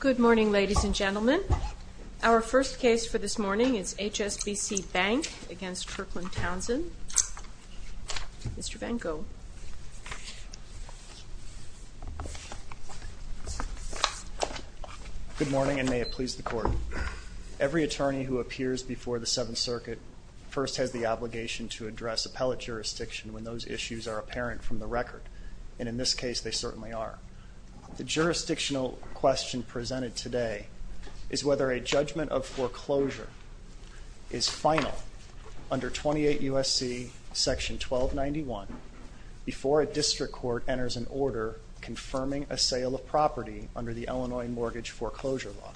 Good morning, ladies and gentlemen. Our first case for this morning is HSBC Bank v. Kirkland Townsend. Mr. Van Gogh. Good morning, and may it please the Court. Every attorney who appears before the Seventh Circuit first has the obligation to address appellate jurisdiction when those issues are presented. The question presented today is whether a judgment of foreclosure is final under 28 U.S.C. § 1291 before a district court enters an order confirming a sale of property under the Illinois Mortgage Foreclosure Law.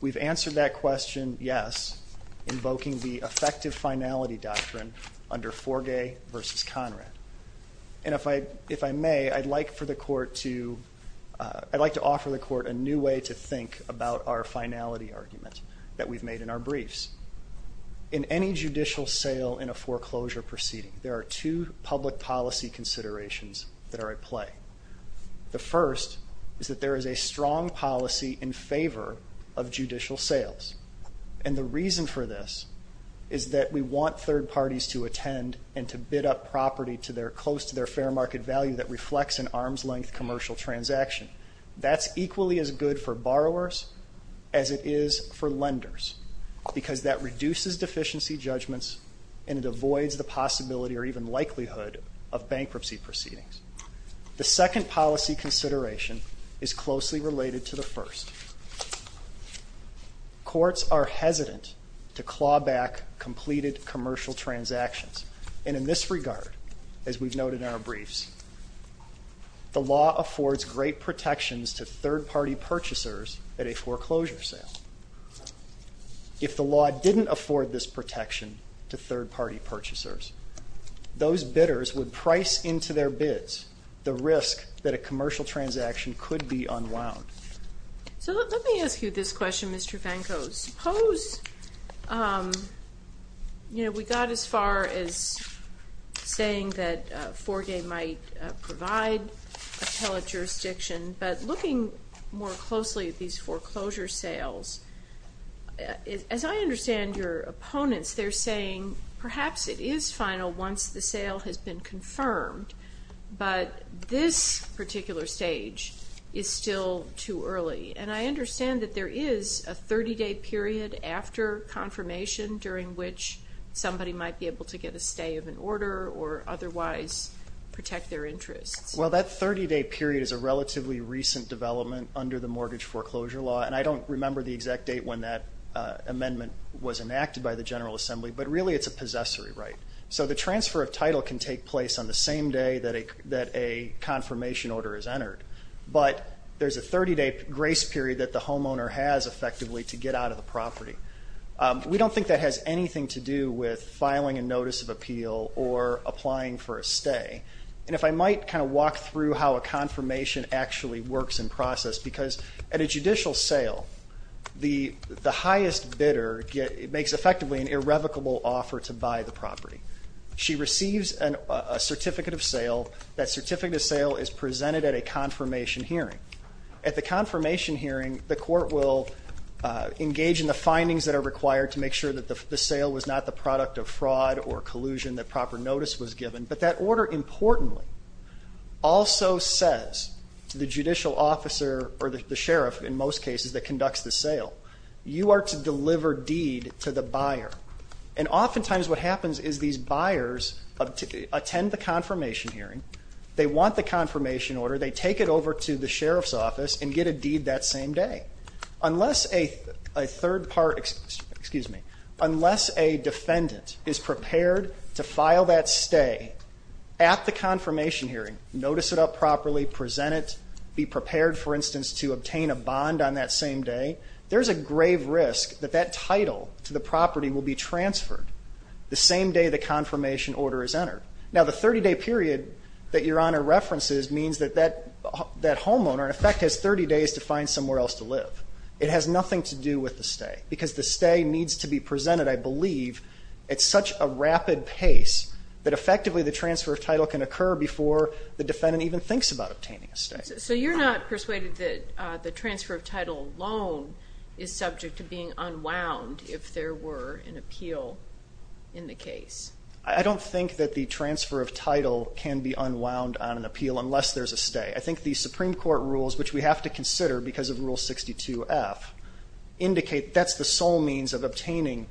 We've answered that question, yes, invoking the effective finality doctrine under Forgay v. Conrad. And if I may, I'd like to offer the Court a new way to think about our finality argument that we've made in our briefs. In any judicial sale in a foreclosure proceeding, there are two public policy considerations that are at play. The first is that there is a strong policy in favor of judicial sales. And the reason for this is that we want third parties to attend and to bid up property close to their fair market value that reflects an arm's-length commercial transaction. That's equally as good for borrowers as it is for lenders, because that reduces deficiency judgments and it avoids the possibility or even likelihood of bankruptcy proceedings. The second policy consideration is closely related to the first. Courts are hesitant to claw back completed commercial transactions. And in this regard, as we've noted in our briefs, the law affords great protections to third-party purchasers at a foreclosure sale. If the law didn't afford this protection to third-party purchasers, those bidders would price into their bids the risk that a commercial transaction could be unwound. So let me ask you this question, Mr. Fankos. Suppose we got as far as saying that a commercial sale might provide appellate jurisdiction, but looking more closely at these foreclosure sales, as I understand your opponents, they're saying perhaps it is final once the sale has been confirmed, but this particular stage is still too early. And I understand that there is a 30-day period after confirmation during which somebody might be able to get a stay of an order or otherwise protect their interests. Well, that 30-day period is a relatively recent development under the mortgage foreclosure law, and I don't remember the exact date when that amendment was enacted by the General Assembly, but really it's a possessory right. So the transfer of title can take place on the same day that a confirmation order is entered, but there's a 30-day grace period that the homeowner has effectively to get out of the property. We don't think that has anything to do with filing a notice of appeal or applying for a stay. And if I might kind of walk through how a confirmation actually works in process, because at a judicial sale, the highest bidder makes effectively an irrevocable offer to buy the property. She receives a certificate of sale. That certificate of sale is presented at a confirmation hearing. At the confirmation hearing, the court will engage in the findings that are required to make sure that the sale was not the product of fraud or collusion, that proper notice was given. But that order, importantly, also says to the judicial officer or the sheriff in most cases that conducts the sale, you are to deliver deed to the buyer. And oftentimes what happens is these buyers attend the confirmation hearing, they want the confirmation order, they take it over to the sheriff's office and get a deed that same day. Unless a third part, excuse me, unless a defendant is prepared to file that stay at the confirmation hearing, notice it up properly, present it, be prepared, for instance, to obtain a bond on that same day, there's a grave risk that that title to the property will be transferred the same day the confirmation order is entered. Now, the 30-day period that Your Honor references means that that homeowner in effect has 30 days to find somewhere else to live. It has nothing to do with the stay because the stay needs to be presented, I believe, at such a rapid pace that effectively the transfer of title can occur before the defendant even thinks about obtaining a stay. So you're not persuaded that the transfer of title loan is subject to being unwound if there were an appeal in the case? I don't think that the transfer of title can be unwound on an appeal unless there's a stay. I think the indicate that's the sole means of obtaining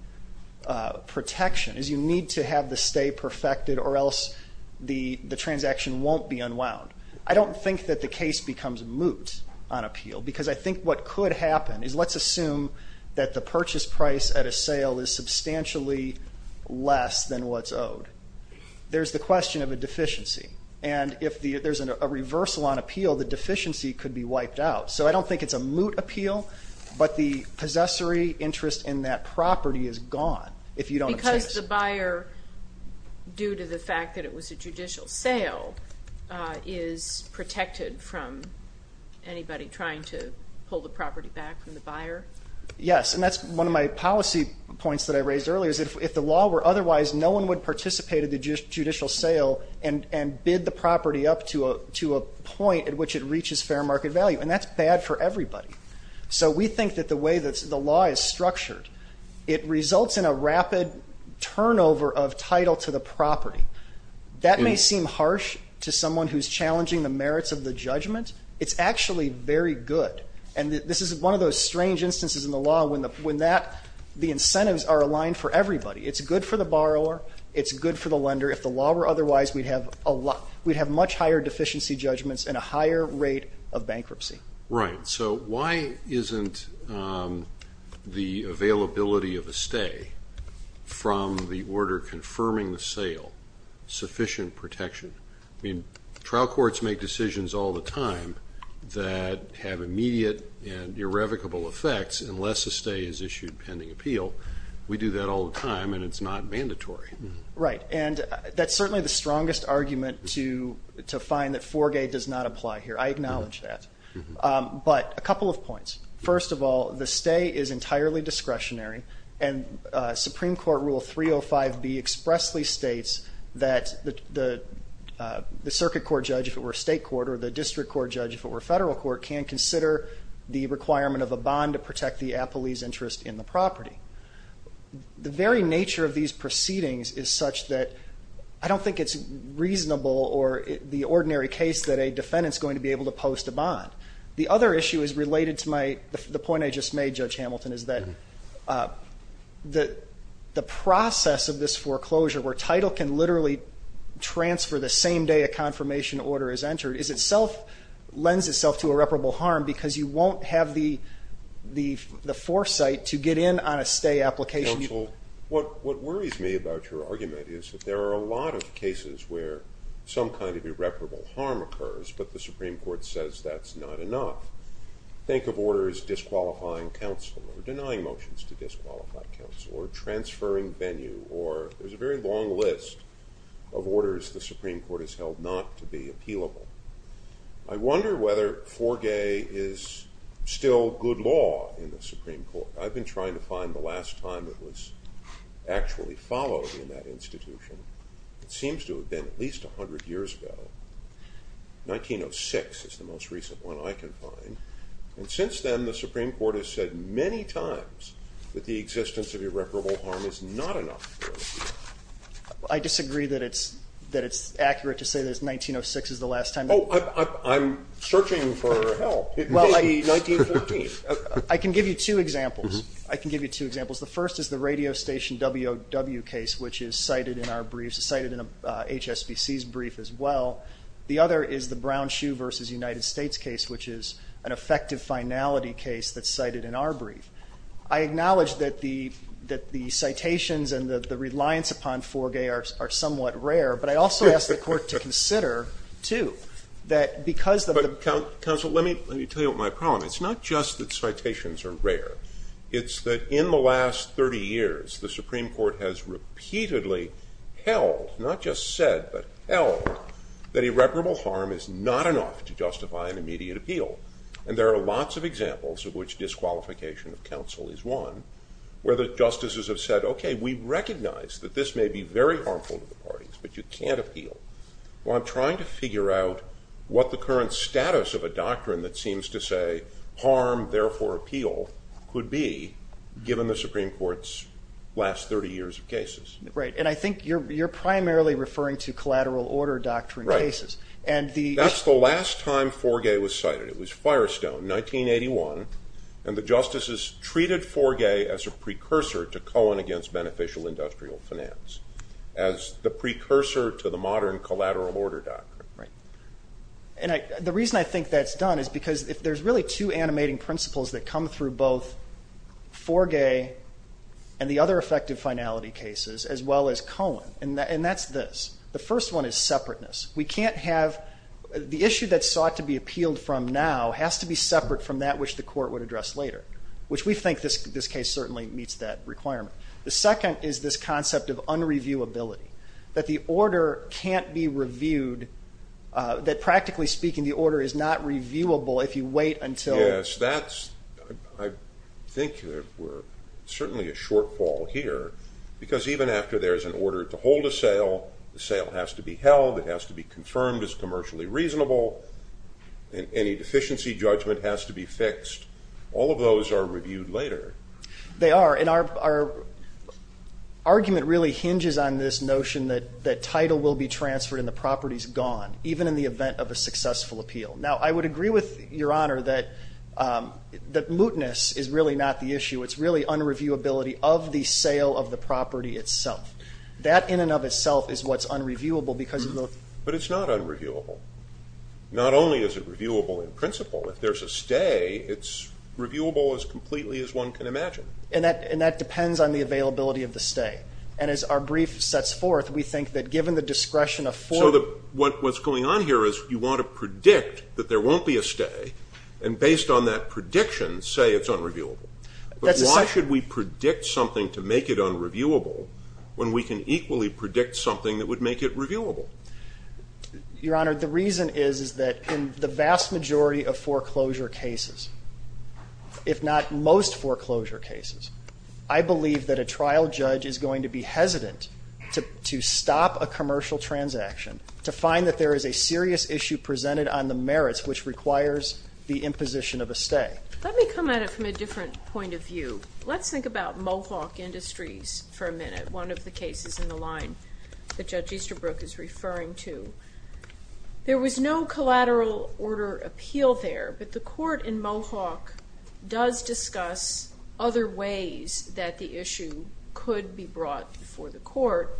protection is you need to have the stay perfected or else the transaction won't be unwound. I don't think that the case becomes moot on appeal because I think what could happen is let's assume that the purchase price at a sale is substantially less than what's owed. There's the question of a deficiency. And if there's a reversal on appeal, the deficiency could be wiped out. So I don't think it's a moot appeal, but the possessory interest in that property is gone if you don't obtain it. Because the buyer, due to the fact that it was a judicial sale, is protected from anybody trying to pull the property back from the buyer? Yes. And that's one of my policy points that I raised earlier is if the law were otherwise, no one would participate in the judicial sale and bid the property up to a point at which it reaches fair market value. And that's bad for everybody. So we think that the way that the law is structured, it results in a rapid turnover of title to the property. That may seem harsh to someone who's challenging the merits of the judgment. It's actually very good. And this is one of those strange instances in the law when the incentives are aligned for everybody. It's good for the borrower. It's good for the lender. If the law were otherwise, we'd have much higher deficiency judgments and a higher rate of bankruptcy. Right. So why isn't the availability of a stay from the order confirming the sale sufficient protection? I mean, trial courts make decisions all the time that have immediate and irrevocable effects unless a stay is issued pending appeal. We do that all the time and it's not mandatory. Right. And that's certainly the strongest argument to find that Forgay does not apply here. I acknowledge that. But a couple of points. First of all, the stay is entirely discretionary and Supreme Court Rule 305B expressly states that the circuit court judge, if it were state court, or the district court judge, if it were federal court, can consider the requirement of a bond to protect the appellee's interest in the property. The very nature of these proceedings is such that I don't think it's reasonable or the ordinary case that a defendant's going to be able to post a bond. The other issue is related to the point I just made, Judge Hamilton, is that the process of this foreclosure, where title can literally transfer the same day a confirmation order is entered, lends itself to irreparable harm because you won't have the foresight to get in on a stay application. Counsel, what worries me about your argument is that there are a lot of cases where some kind of irreparable harm occurs, but the Supreme Court says that's not enough. Think of orders disqualifying counsel, or denying motions to disqualified counsel, or transferring venue, or there's a very long list of orders the Supreme Court has held not to be appealable. I wonder whether Forgay is still good law in the Supreme Court. I've been trying to find the last time it was actually followed in that institution. It seems to have been at least 100 years ago. 1906 is the most recent one I can find, and since then the Supreme Court has said many times that the existence of irreparable harm is not enough. I disagree that it's accurate to say that 1906 is the last time. Oh, I'm searching for help. It may be 1914. I can give you two examples. The first is the radio station W.O.W. case, which is cited in HSBC's brief as well. The other is the Brown Shoe v. United States case, which is an effective finality case that's cited in our brief. I acknowledge that the citations and the reliance upon Forgay are somewhat rare, but I also ask the court to consider, too, that because of the... Counsel, let me tell you my problem. It's not just that citations are rare. It's that in the last 30 years, the Supreme Court has repeatedly held, not just said, but held that irreparable harm is not enough to justify an immediate appeal. There are lots of examples of which disqualification of counsel is one, where the justices have said, okay, we recognize that this may be very harmful to the parties, but you can't appeal. I'm trying to figure out what the current status of a doctrine that seems to say harm, therefore appeal, could be, given the Supreme Court's last 30 years of cases. Right. I think you're primarily referring to collateral order doctrine cases. Right. That's the last time Forgay was cited. It was Firestone, 1981. The justices treated Forgay as a precursor to Cohen against beneficial industrial finance, as the precursor to the modern collateral order doctrine. Right. The reason I think that's done is because if there's really two animating principles that come through both Forgay and the other effective finality cases, as well as Cohen, and that's this. The first one is separateness. We can't have... The issue that's sought to be appealed from now has to be separate from that which the court would address later, which we think this case certainly meets that requirement. The second is this concept of unreviewability, that the order can't be reviewed, that practically speaking the order is not reviewable if you wait until... Yes, that's... I think we're certainly a shortfall here, because even after there's an order to hold a sale, the sale has to be held, it has to be confirmed as commercially reasonable, and any deficiency judgment has to be fixed. All of those are there. They are, and our argument really hinges on this notion that title will be transferred and the property's gone, even in the event of a successful appeal. Now, I would agree with Your Honor that mootness is really not the issue, it's really unreviewability of the sale of the property itself. That in and of itself is what's unreviewable because of the... But it's not unreviewable. Not only is it reviewable in principle, if there's a stay, it's reviewable as completely as one can imagine. And that depends on the availability of the stay, and as our brief sets forth, we think that given the discretion of... So what's going on here is you want to predict that there won't be a stay, and based on that prediction say it's unreviewable. But why should we predict something to make it unreviewable when we can equally predict something that would make it reviewable? Your Honor, the vast majority of foreclosure cases, if not most foreclosure cases, I believe that a trial judge is going to be hesitant to stop a commercial transaction to find that there is a serious issue presented on the merits which requires the imposition of a stay. Let me come at it from a different point of view. Let's think about Mohawk Industries for a minute, one of the cases in the line that Judge Easterbrook is referring to. There was no collateral or order appeal there, but the court in Mohawk does discuss other ways that the issue could be brought before the court,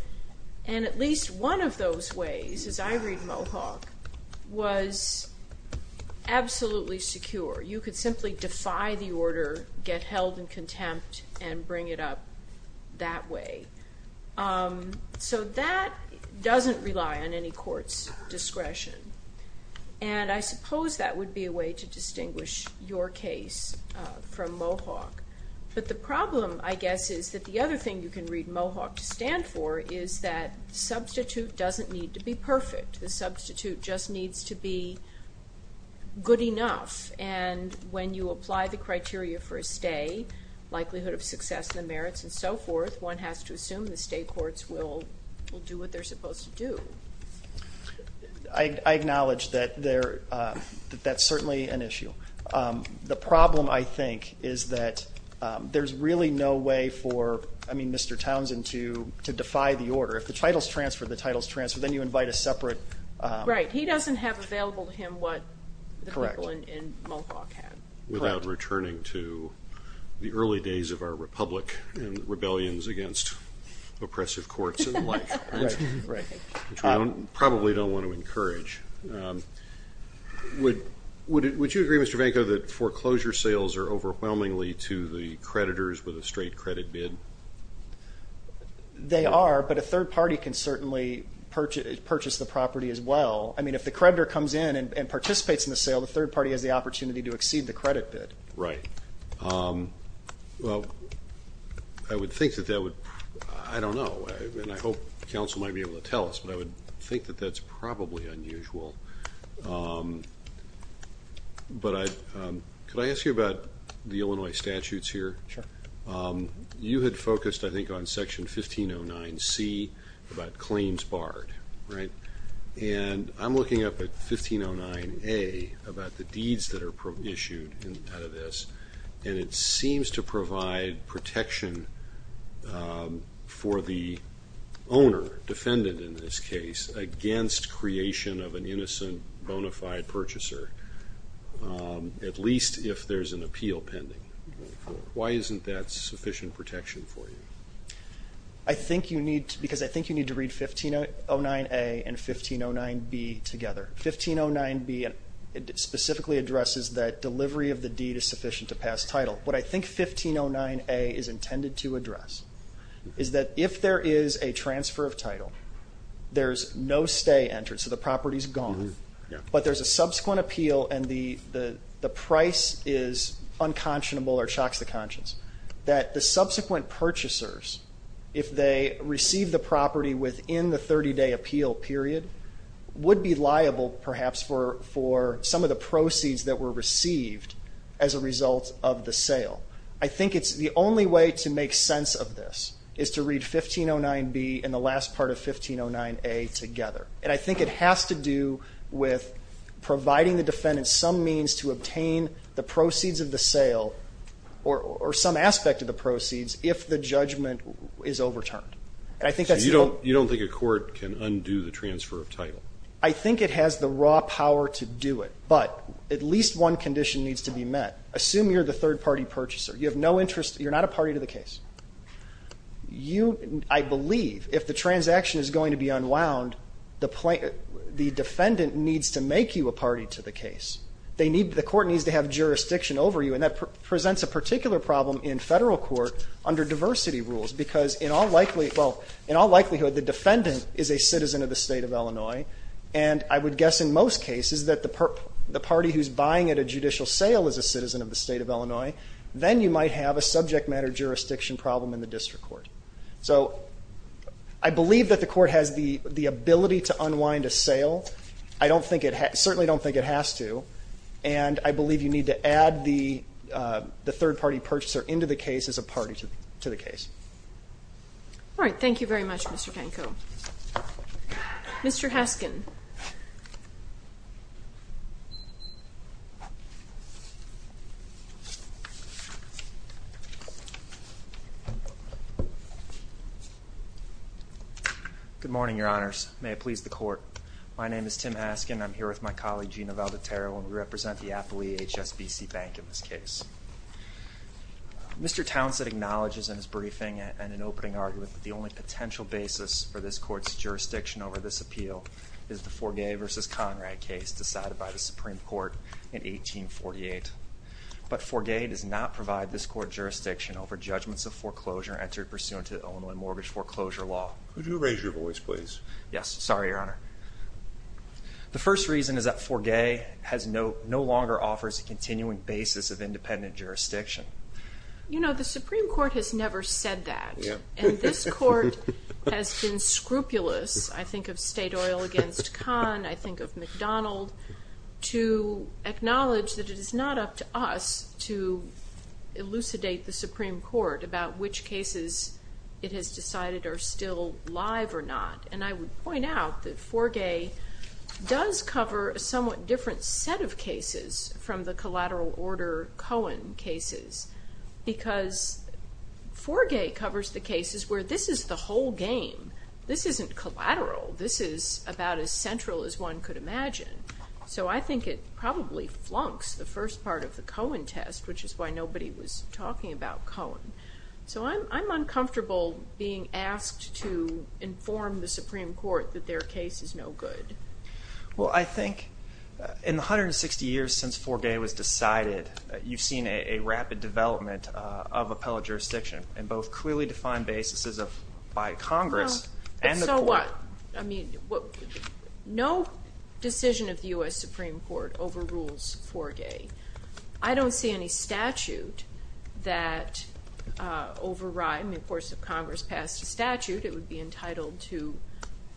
and at least one of those ways, as I read Mohawk, was absolutely secure. You could simply defy the order, get held in contempt, and bring it up that way. So that doesn't rely on any court's discretion, and I suppose that would be a way to distinguish your case from Mohawk. But the problem, I guess, is that the other thing you can read Mohawk to stand for is that the substitute doesn't need to be perfect. The substitute just needs to be good enough, and when you apply the criteria for a stay, likelihood of success, the merits, and so forth, one has to assume the state courts will do what they're supposed to do. I acknowledge that that's certainly an issue. The problem, I think, is that there's really no way for, I mean, Mr. Townsend to defy the order. If the title's transferred, the title's transferred, then you invite a separate... Right. He doesn't have available to him what the people in Mohawk had. Correct. Without returning to the early days of our republic and rebellions against oppressive courts and the like, which we probably don't want to encourage. Would you agree, Mr. Vanko, that foreclosure sales are overwhelmingly to the creditors with a straight credit bid? They are, but a third party can certainly purchase the property as well. I mean, if the creditor comes in and participates in the sale, the third party has the opportunity to exceed the credit bid. Right. Well, I would think that that would, I don't know, and I hope counsel might be able to tell us, but I would think that that's probably unusual. But could I ask you about the Illinois statutes here? Sure. You had focused, I think, on Section 1509C about claims barred, right? And I'm looking up at 1509A about the deeds that are issued out of this, and it seems to provide protection for the owner, defendant in this case, against creation of an innocent, bonafide purchaser, at least if there's an appeal pending. Why isn't that sufficient protection for you? I think you need to, because I think you need to read 1509A and 1509B together. 1509B specifically addresses that delivery of the deed is sufficient to pass title. What I think 1509A is intended to address is that if there is a transfer of title, there's no stay entered, so the property's gone, but there's a subsequent appeal and the price is unconscionable or uninsured. If they receive the property within the 30-day appeal period, it would be liable, perhaps, for some of the proceeds that were received as a result of the sale. I think it's the only way to make sense of this is to read 1509B and the last part of 1509A together. And I think it has to do with providing the defendant some means to obtain the proceeds of the sale or some aspect of the proceeds if the judgment is overturned. You don't think a court can undo the transfer of title? I think it has the raw power to do it, but at least one condition needs to be met. Assume you're the third-party purchaser. You're not a party to the case. I believe if the transaction is going to be unwound, the defendant needs to make you a party to the case. The court needs to have jurisdiction over you, and that presents a particular problem in federal court under diversity rules, because in all likelihood, the defendant is a citizen of the state of Illinois, and I would guess in most cases that the party who's buying at a judicial sale is a citizen of the state of Illinois. Then you might have a subject matter jurisdiction problem in the district court. So I believe that the court has the ability to unwind a sale. I certainly don't think it has to, and I believe you need to add the third-party purchaser into the case as a party to the case. All right. Thank you very much, Mr. Danko. Mr. Haskin. Good morning, Your Honors. May it please the Court. My name is Tim Haskin. I'm here with my colleague Gina Valdetero, and we represent the affilee HSBC Bank in this case. Mr. Townsend acknowledges in his briefing and in opening argument that the only potential basis for this Court's jurisdiction over this appeal is the Forgay v. Conrad case decided by the Supreme Court in 1848. But Forgay does not provide this Court jurisdiction over judgments of foreclosure entered pursuant to the Illinois Mortgage Foreclosure Law. Could you raise your voice, please? Yes. Sorry, Your Honor. The first reason is that Forgay no longer offers a continuing basis of independent jurisdiction. You know, the Supreme Court has never said that. And this Court has been scrupulous, I think of state oil against con, I think of McDonald, to acknowledge that it is not up to us to elucidate the Supreme Court about which cases it has decided are still live or not. And I would point out that Forgay does cover a somewhat different set of cases from the collateral order Cohen cases, because Forgay covers the cases where this is the whole game. This isn't collateral. This is about as central as one could imagine. So I think it probably flunks the first part of the Cohen test, which is why nobody was to inform the Supreme Court that their case is no good. Well, I think in the 160 years since Forgay was decided, you've seen a rapid development of appellate jurisdiction in both clearly defined basis by Congress and the Court. No, but so what? I mean, no decision of the U.S. Supreme Court overrules Forgay. I don't see any statute that overrides, I mean, of course if Congress passed a statute, it would be entitled to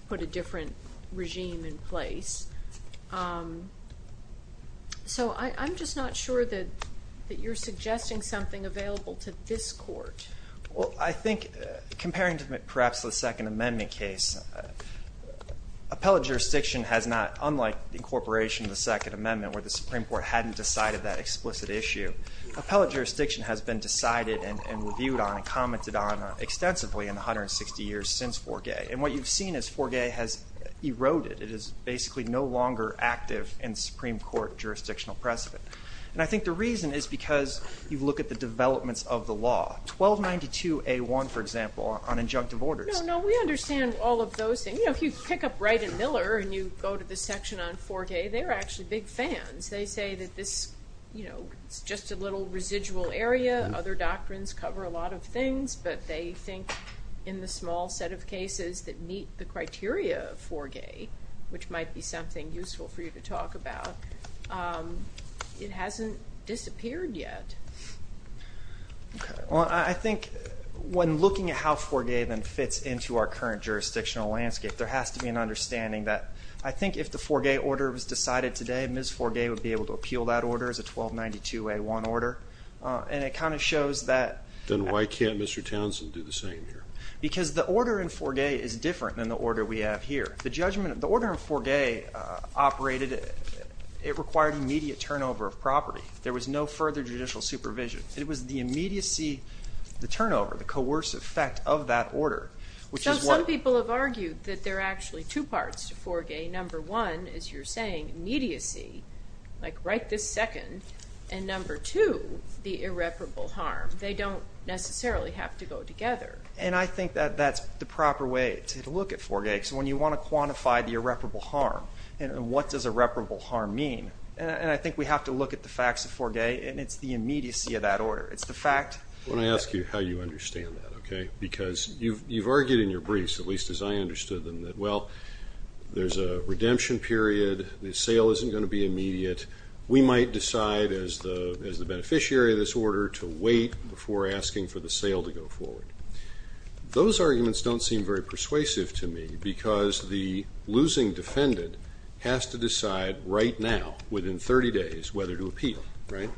put a different regime in place. So I'm just not sure that you're suggesting something available to this Court. Well, I think comparing to perhaps the Second Amendment case, appellate jurisdiction has not, unlike the incorporation of the Second Amendment where the Supreme Court hadn't decided that explicit issue, appellate jurisdiction has been decided and reviewed on and commented on extensively in the 160 years since Forgay. And what you've seen is Forgay has eroded. It is basically no longer active in Supreme Court jurisdictional precedent. And I think the reason is because you look at the developments of the law. 1292A1, for example, on injunctive orders. No, no, we understand all of those things. You know, if you pick up Wright and Miller and you go to the section on Forgay, they're actually big fans. They say that this, you know, it's just a little residual area. Other doctrines cover a lot of things, but they think in the small set of cases that meet the criteria of Forgay, which might be something useful for you to talk about, it hasn't disappeared yet. Okay. Well, I think when looking at how Forgay then fits into our current jurisdictional landscape, there has to be an understanding that I think if the Forgay order was decided today, Ms. Forgay would be able to appeal that order as a 1292A1 order. And it kind of shows that Then why can't Mr. Townsend do the same here? Because the order in Forgay is different than the order we have here. The judgment, the order in Forgay operated, it required immediate turnover of property. There was no further judicial supervision. It was the immediacy, the turnover, the coerce effect of that order, which is what Some people have argued that there are actually two parts to Forgay. Number one, as you're saying, immediacy, like right this second, and number two, the irreparable harm. They don't necessarily have to go together. And I think that that's the proper way to look at Forgay, because when you want to quantify the irreparable harm, and what does irreparable harm mean? And I think we have to look at the facts of Forgay, and it's the immediacy of that order. It's the fact I want to ask you how you understand that, okay? Because you've argued in your briefs, at least as I understood them, that, well, there's a redemption period, the sale isn't going to be immediate, we might decide as the beneficiary of this order to wait before asking for the sale to go forward. Those arguments don't seem very persuasive to me, because the losing defendant has to decide right now, within 30 days, whether to appeal, right?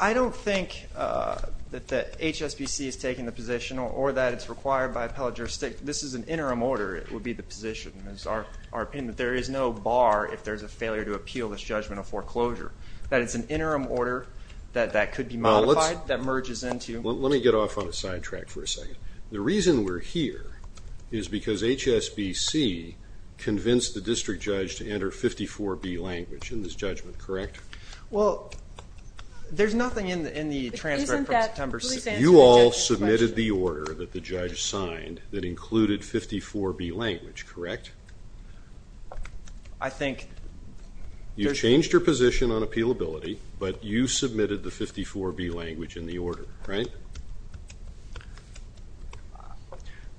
I don't think that HSBC is taking the position, or that it's required by appellate jurisdiction. This is an interim order, would be the position. It's our opinion that there is no bar if there's a failure to appeal this judgment of foreclosure. That it's an interim order, that that could be modified, that merges into... Let me get off on a side track for a second. The reason we're here is because HSBC convinced the district judge to enter 54B language in this judgment, correct? Well, there's nothing in the transcript from September 6th. You all submitted the order that the judge signed that included 54B language, correct? I think... You've changed your position on appealability, but you submitted the 54B language in the order, right?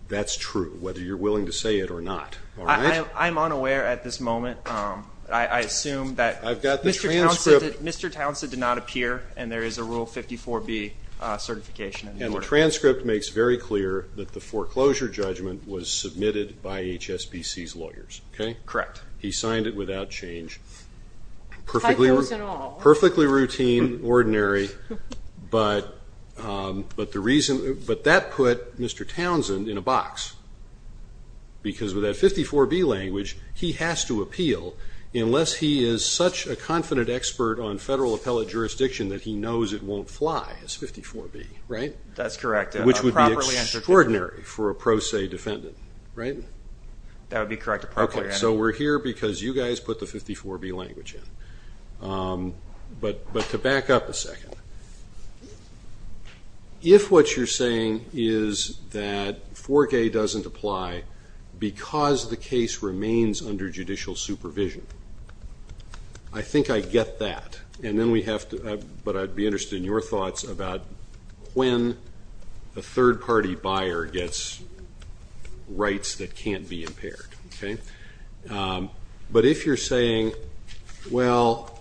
That's true, whether you're willing to say it or not, all right? I'm unaware at this moment. I assume that Mr. Townsend did not appear, and there is a Rule 54B certification in the order. And the transcript makes very clear that the foreclosure judgment was submitted by HSBC's lawyers, okay? Correct. He signed it without change. High proofs and all. Perfectly routine, ordinary, but that put Mr. Townsend in a box, because with that 54B language, he has to appeal unless he is such a confident expert on federal appellate jurisdiction that he knows it won't fly as 54B, right? That's correct. Which would be extraordinary for a pro se defendant, right? That would be correct. Okay, so we're here because you guys put the 54B language in. But to back up a second, if what you're saying is that 4K doesn't apply because the case remains under judicial supervision, I think I get that. And then we have to – but I'd be interested in your thoughts about when a third-party buyer gets rights that can't be impaired, okay? But if you're saying, well,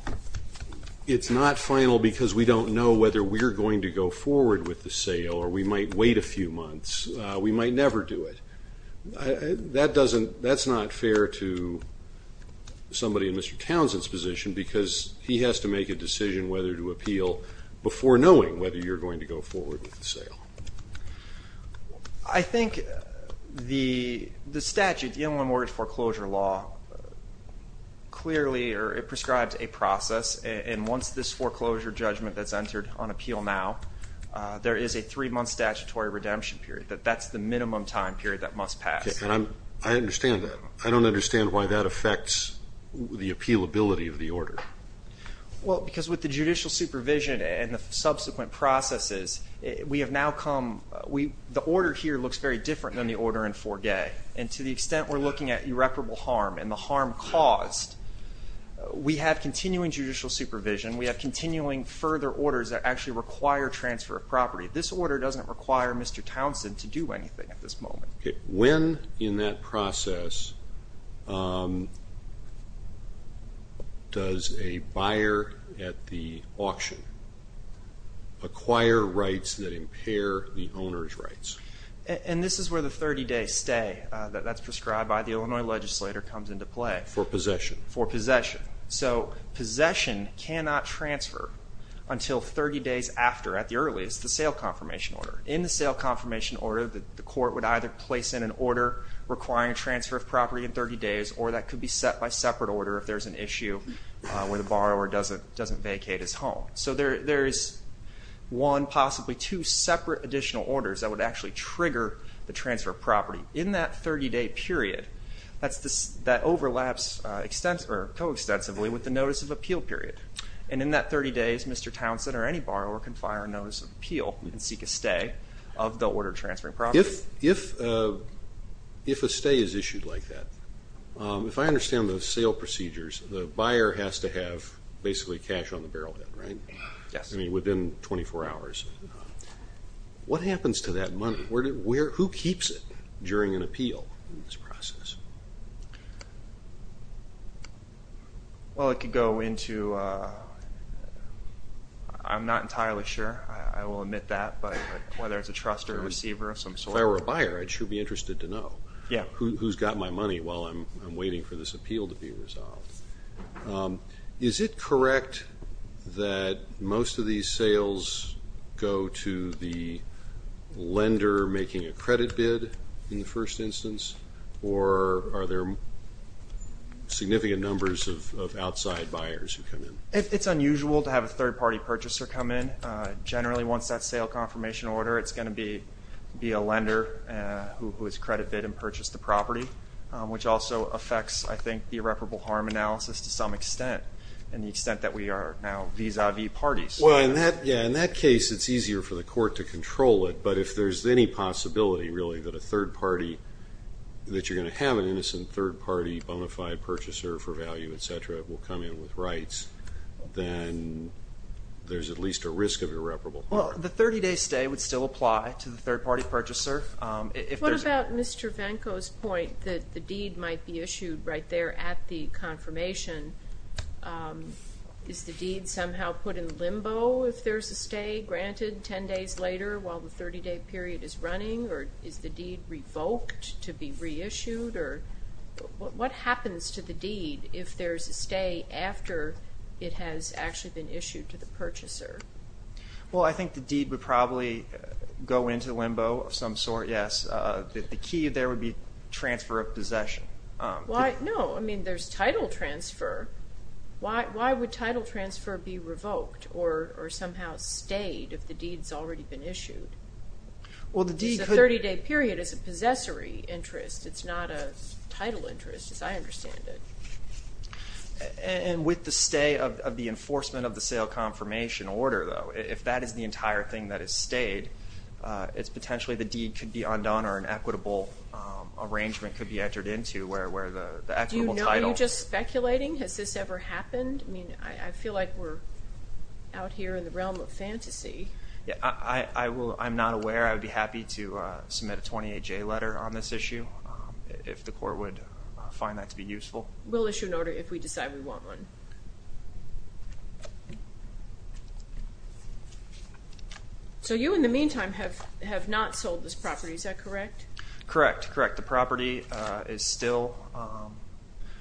it's not final because we don't know whether we're going to go forward with the sale or we might wait a few months, we might never do it, that doesn't – that's not fair to somebody in Mr. Townsend's position, because he has to make a decision whether to appeal before knowing whether you're going to go forward with the sale. I think the statute, the Inland Mortgage Foreclosure Law, clearly prescribes a process, and once this foreclosure judgment that's entered on appeal now, there is a three-month statutory redemption period, that that's the minimum time period that must pass. Okay. And I understand that. I don't understand why that affects the appealability of the order. Well, because with the judicial supervision and the subsequent processes, we have now come – the order here looks very different than the order in 4K. And to the extent we're looking at irreparable harm and the harm caused, we have continuing judicial supervision, we have continuing further orders that actually require transfer of property. This order doesn't require Mr. Townsend to do anything at this moment. When in that process does a buyer at the auction acquire rights that impair the owner's rights? And this is where the 30-day stay that's prescribed by the Illinois legislator comes into play. For possession. For possession. So, possession cannot transfer until 30 days after, at the earliest, the sale confirmation order. In the sale confirmation order, the court would either place in an order requiring a transfer of property in 30 days, or that could be set by separate order if there's an issue where the borrower doesn't vacate his home. So there is one, possibly two, separate additional orders that would actually trigger the transfer of property. In that 30-day period, that overlaps co-extensively with the notice of appeal period. And in that 30 days, Mr. Townsend or any borrower can file a notice of appeal and seek a stay of the order transferring property. If a stay is issued like that, if I understand the sale procedures, the buyer has to have basically cash on the barrelhead, right? Yes. I mean, within 24 hours. What happens to that money? Who keeps it during an appeal in this process? Well, it could go into, I'm not entirely sure. I will admit that, but whether it's a trust or a receiver of some sort. If I were a buyer, I'd sure be interested to know who's got my money while I'm waiting for this appeal to be resolved. Is it correct that most of these sales go to the lender making a credit bid in the first instance, or are there significant numbers of outside buyers who come in? It's unusual to have a third-party purchaser come in. Generally, once that sale confirmation order, it's going to be a lender who has credit bid and purchased the property, which also affects, I think, the irreparable harm analysis to some extent, and the extent that we are now vis-a-vis parties. Well, in that case, it's easier for the court to control it. But if there's any possibility, really, that you're going to have an innocent third-party bonafide purchaser for value, etc., will come in with rights, then there's at least a risk of irreparable harm. Well, the 30-day stay would still apply to the third-party purchaser. What about Mr. Venko's point that the deed might be issued right there at the confirmation? Is the deed somehow put in limbo if there's a stay granted 10 days later while the 30-day period is running, or is the deed revoked to be reissued? What happens to the deed if there's a stay after it has actually been issued to the purchaser? Well, I think the deed would probably go into limbo of some sort, yes. The key there would be transfer of possession. No, I mean, there's title transfer. Why would title transfer be revoked or somehow stayed if the deed's already been issued? Because the 30-day period is a possessory interest. It's not a title interest, as I understand it. And with the stay of the enforcement of the sale confirmation order, though, if that is the entire thing that is stayed, it's potentially the deed could be undone or an equitable arrangement could be entered into where the equitable title... Do you know? Are you just speculating? Has this ever happened? I mean, I feel like we're out here in the realm of fantasy. Yeah, I'm not aware. I would be happy to submit a 28-J letter on this issue if the court would find that to be useful. We'll issue an order if we decide we want one. So you, in the meantime, have not sold this property. Is that correct? Correct. That's correct. The property is still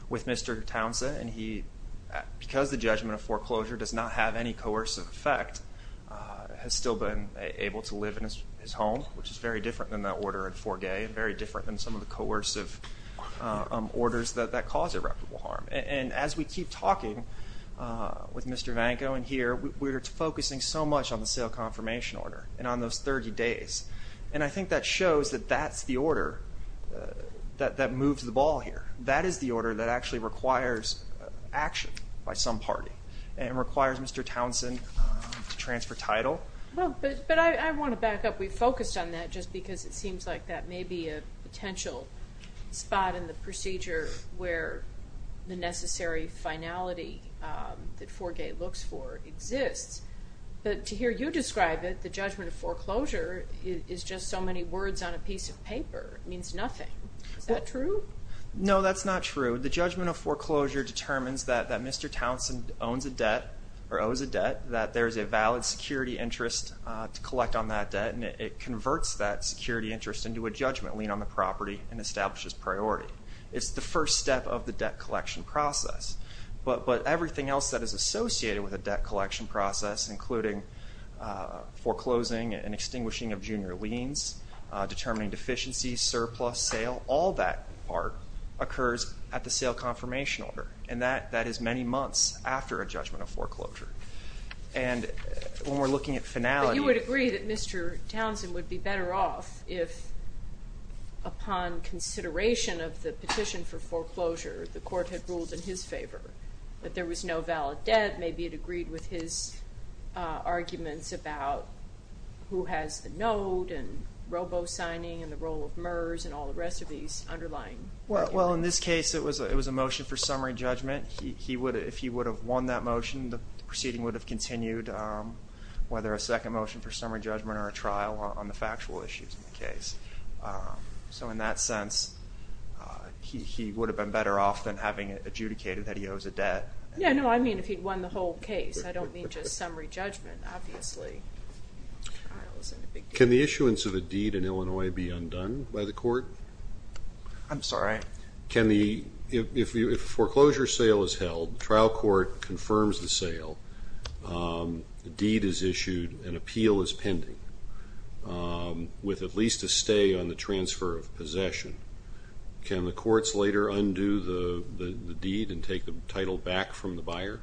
with Mr. Townsend, and he, because the judgment of foreclosure does not have any coercive effect, has still been able to live in his home, which is very different than that order in Forgay and very different than some of the coercive orders that cause irreparable harm. And as we keep talking with Mr. Vanco and here, we're focusing so much on the sale confirmation order and on those 30 days. And I think that shows that that's the order that moves the ball here. That is the order that actually requires action by some party and requires Mr. Townsend to transfer title. But I want to back up. We focused on that just because it seems like that may be a potential spot in the procedure where the necessary finality that Forgay looks for exists. But to hear you describe it, the judgment of foreclosure, is just so many words on a piece of paper. It means nothing. Is that true? No, that's not true. The judgment of foreclosure determines that Mr. Townsend owns a debt or owes a debt, that there's a valid security interest to collect on that debt, and it converts that security interest into a judgment lien on the property and establishes priority. It's the first step of the debt collection process. But everything else that is associated with a debt collection process, including foreclosing and extinguishing of junior liens, determining deficiencies, surplus, sale, all that part occurs at the sale confirmation order. And that is many months after a judgment of foreclosure. And when we're looking at finality... But you would agree that Mr. Townsend would be better off if, upon consideration of the that there was no valid debt, maybe it agreed with his arguments about who has the note and robo-signing and the role of MERS and all the rest of these underlying... Well, in this case, it was a motion for summary judgment. If he would have won that motion, the proceeding would have continued, whether a second motion for summary judgment or a trial on the factual issues of the case. So in that sense, he would have been better off than having it adjudicated that he owes a debt. Yeah, no, I mean if he'd won the whole case. I don't mean just summary judgment, obviously. Can the issuance of a deed in Illinois be undone by the court? I'm sorry? If a foreclosure sale is held, the trial court confirms the sale, the deed is issued, an appeal is pending with at least a stay on the transfer of possession. Can the courts later undo the deed and take the title back from the buyer?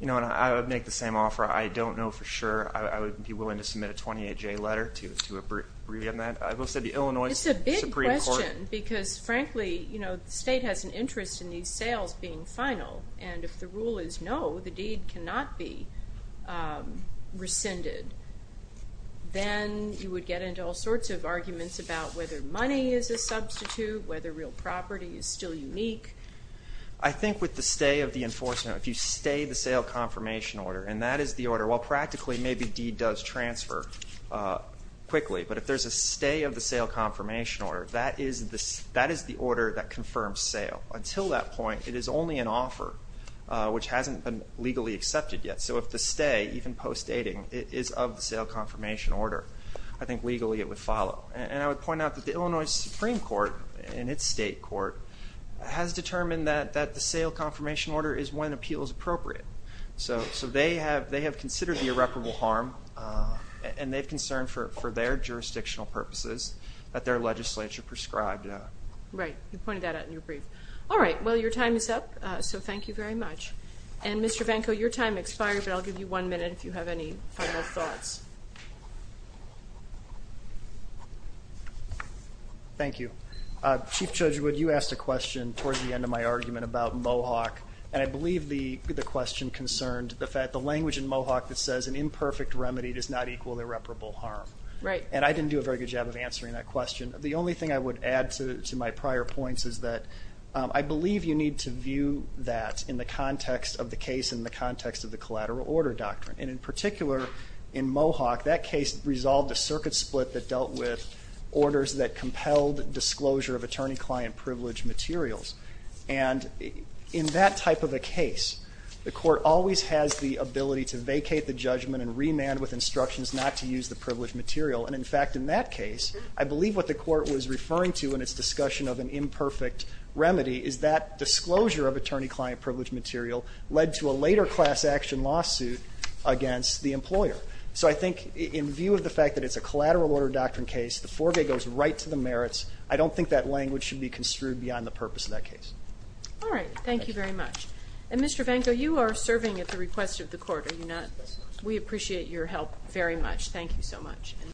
You know, and I would make the same offer. I don't know for sure. I would be willing to submit a 28-J letter to agree on that. I will say the Illinois Supreme Court... It's a big question because, frankly, the state has an interest in these sales being final, and if the rule is no, the deed cannot be rescinded, then you would get into all sorts of arguments about whether money is a substitute, whether real property is still unique. I think with the stay of the enforcement, if you stay the sale confirmation order, and that is the order, well, practically maybe deed does transfer quickly, but if there's a stay of the sale confirmation order, that is the order that confirms sale. Until that point, it is only an offer, which hasn't been legally accepted yet. So if the stay, even post-dating, is of the sale confirmation order, I think legally it would follow. And I would point out that the Illinois Supreme Court, in its state court, has determined that the sale confirmation order is when appeal is appropriate. So they have considered the irreparable harm, and they've concerned for their jurisdictional purposes that their legislature prescribed. Right. You pointed that out in your brief. All right. Well, your time is up, so thank you very much. And, Mr. Vanko, your time expired, but I'll give you one minute if you have any final thoughts. Thank you. Chief Judge Wood, you asked a question towards the end of my argument about Mohawk, and I believe the question concerned the fact the language in Mohawk that says an imperfect remedy does not equal irreparable harm. Right. And I didn't do a very good job of answering that question. The only thing I would add to my prior points is that I believe you need to view that in the context of the case and the context of the collateral order doctrine. And in particular, in Mohawk, that case resolved a circuit split that dealt with orders that compelled disclosure of attorney-client privilege materials. And in that type of a case, the court always has the ability to vacate the judgment and remand with instructions not to use the privileged material. And, in fact, in that case, I believe what the court was referring to in its discussion of an imperfect remedy is that disclosure of attorney-client privilege material led to a later class action lawsuit against the employer. So I think in view of the fact that it's a collateral order doctrine case, the foregoes right to the merits. I don't think that language should be construed beyond the purpose of that case. All right. Thank you very much. And, Mr. Vanko, you are serving at the request of the court. Are you not? We appreciate your help very much. Thank you so much.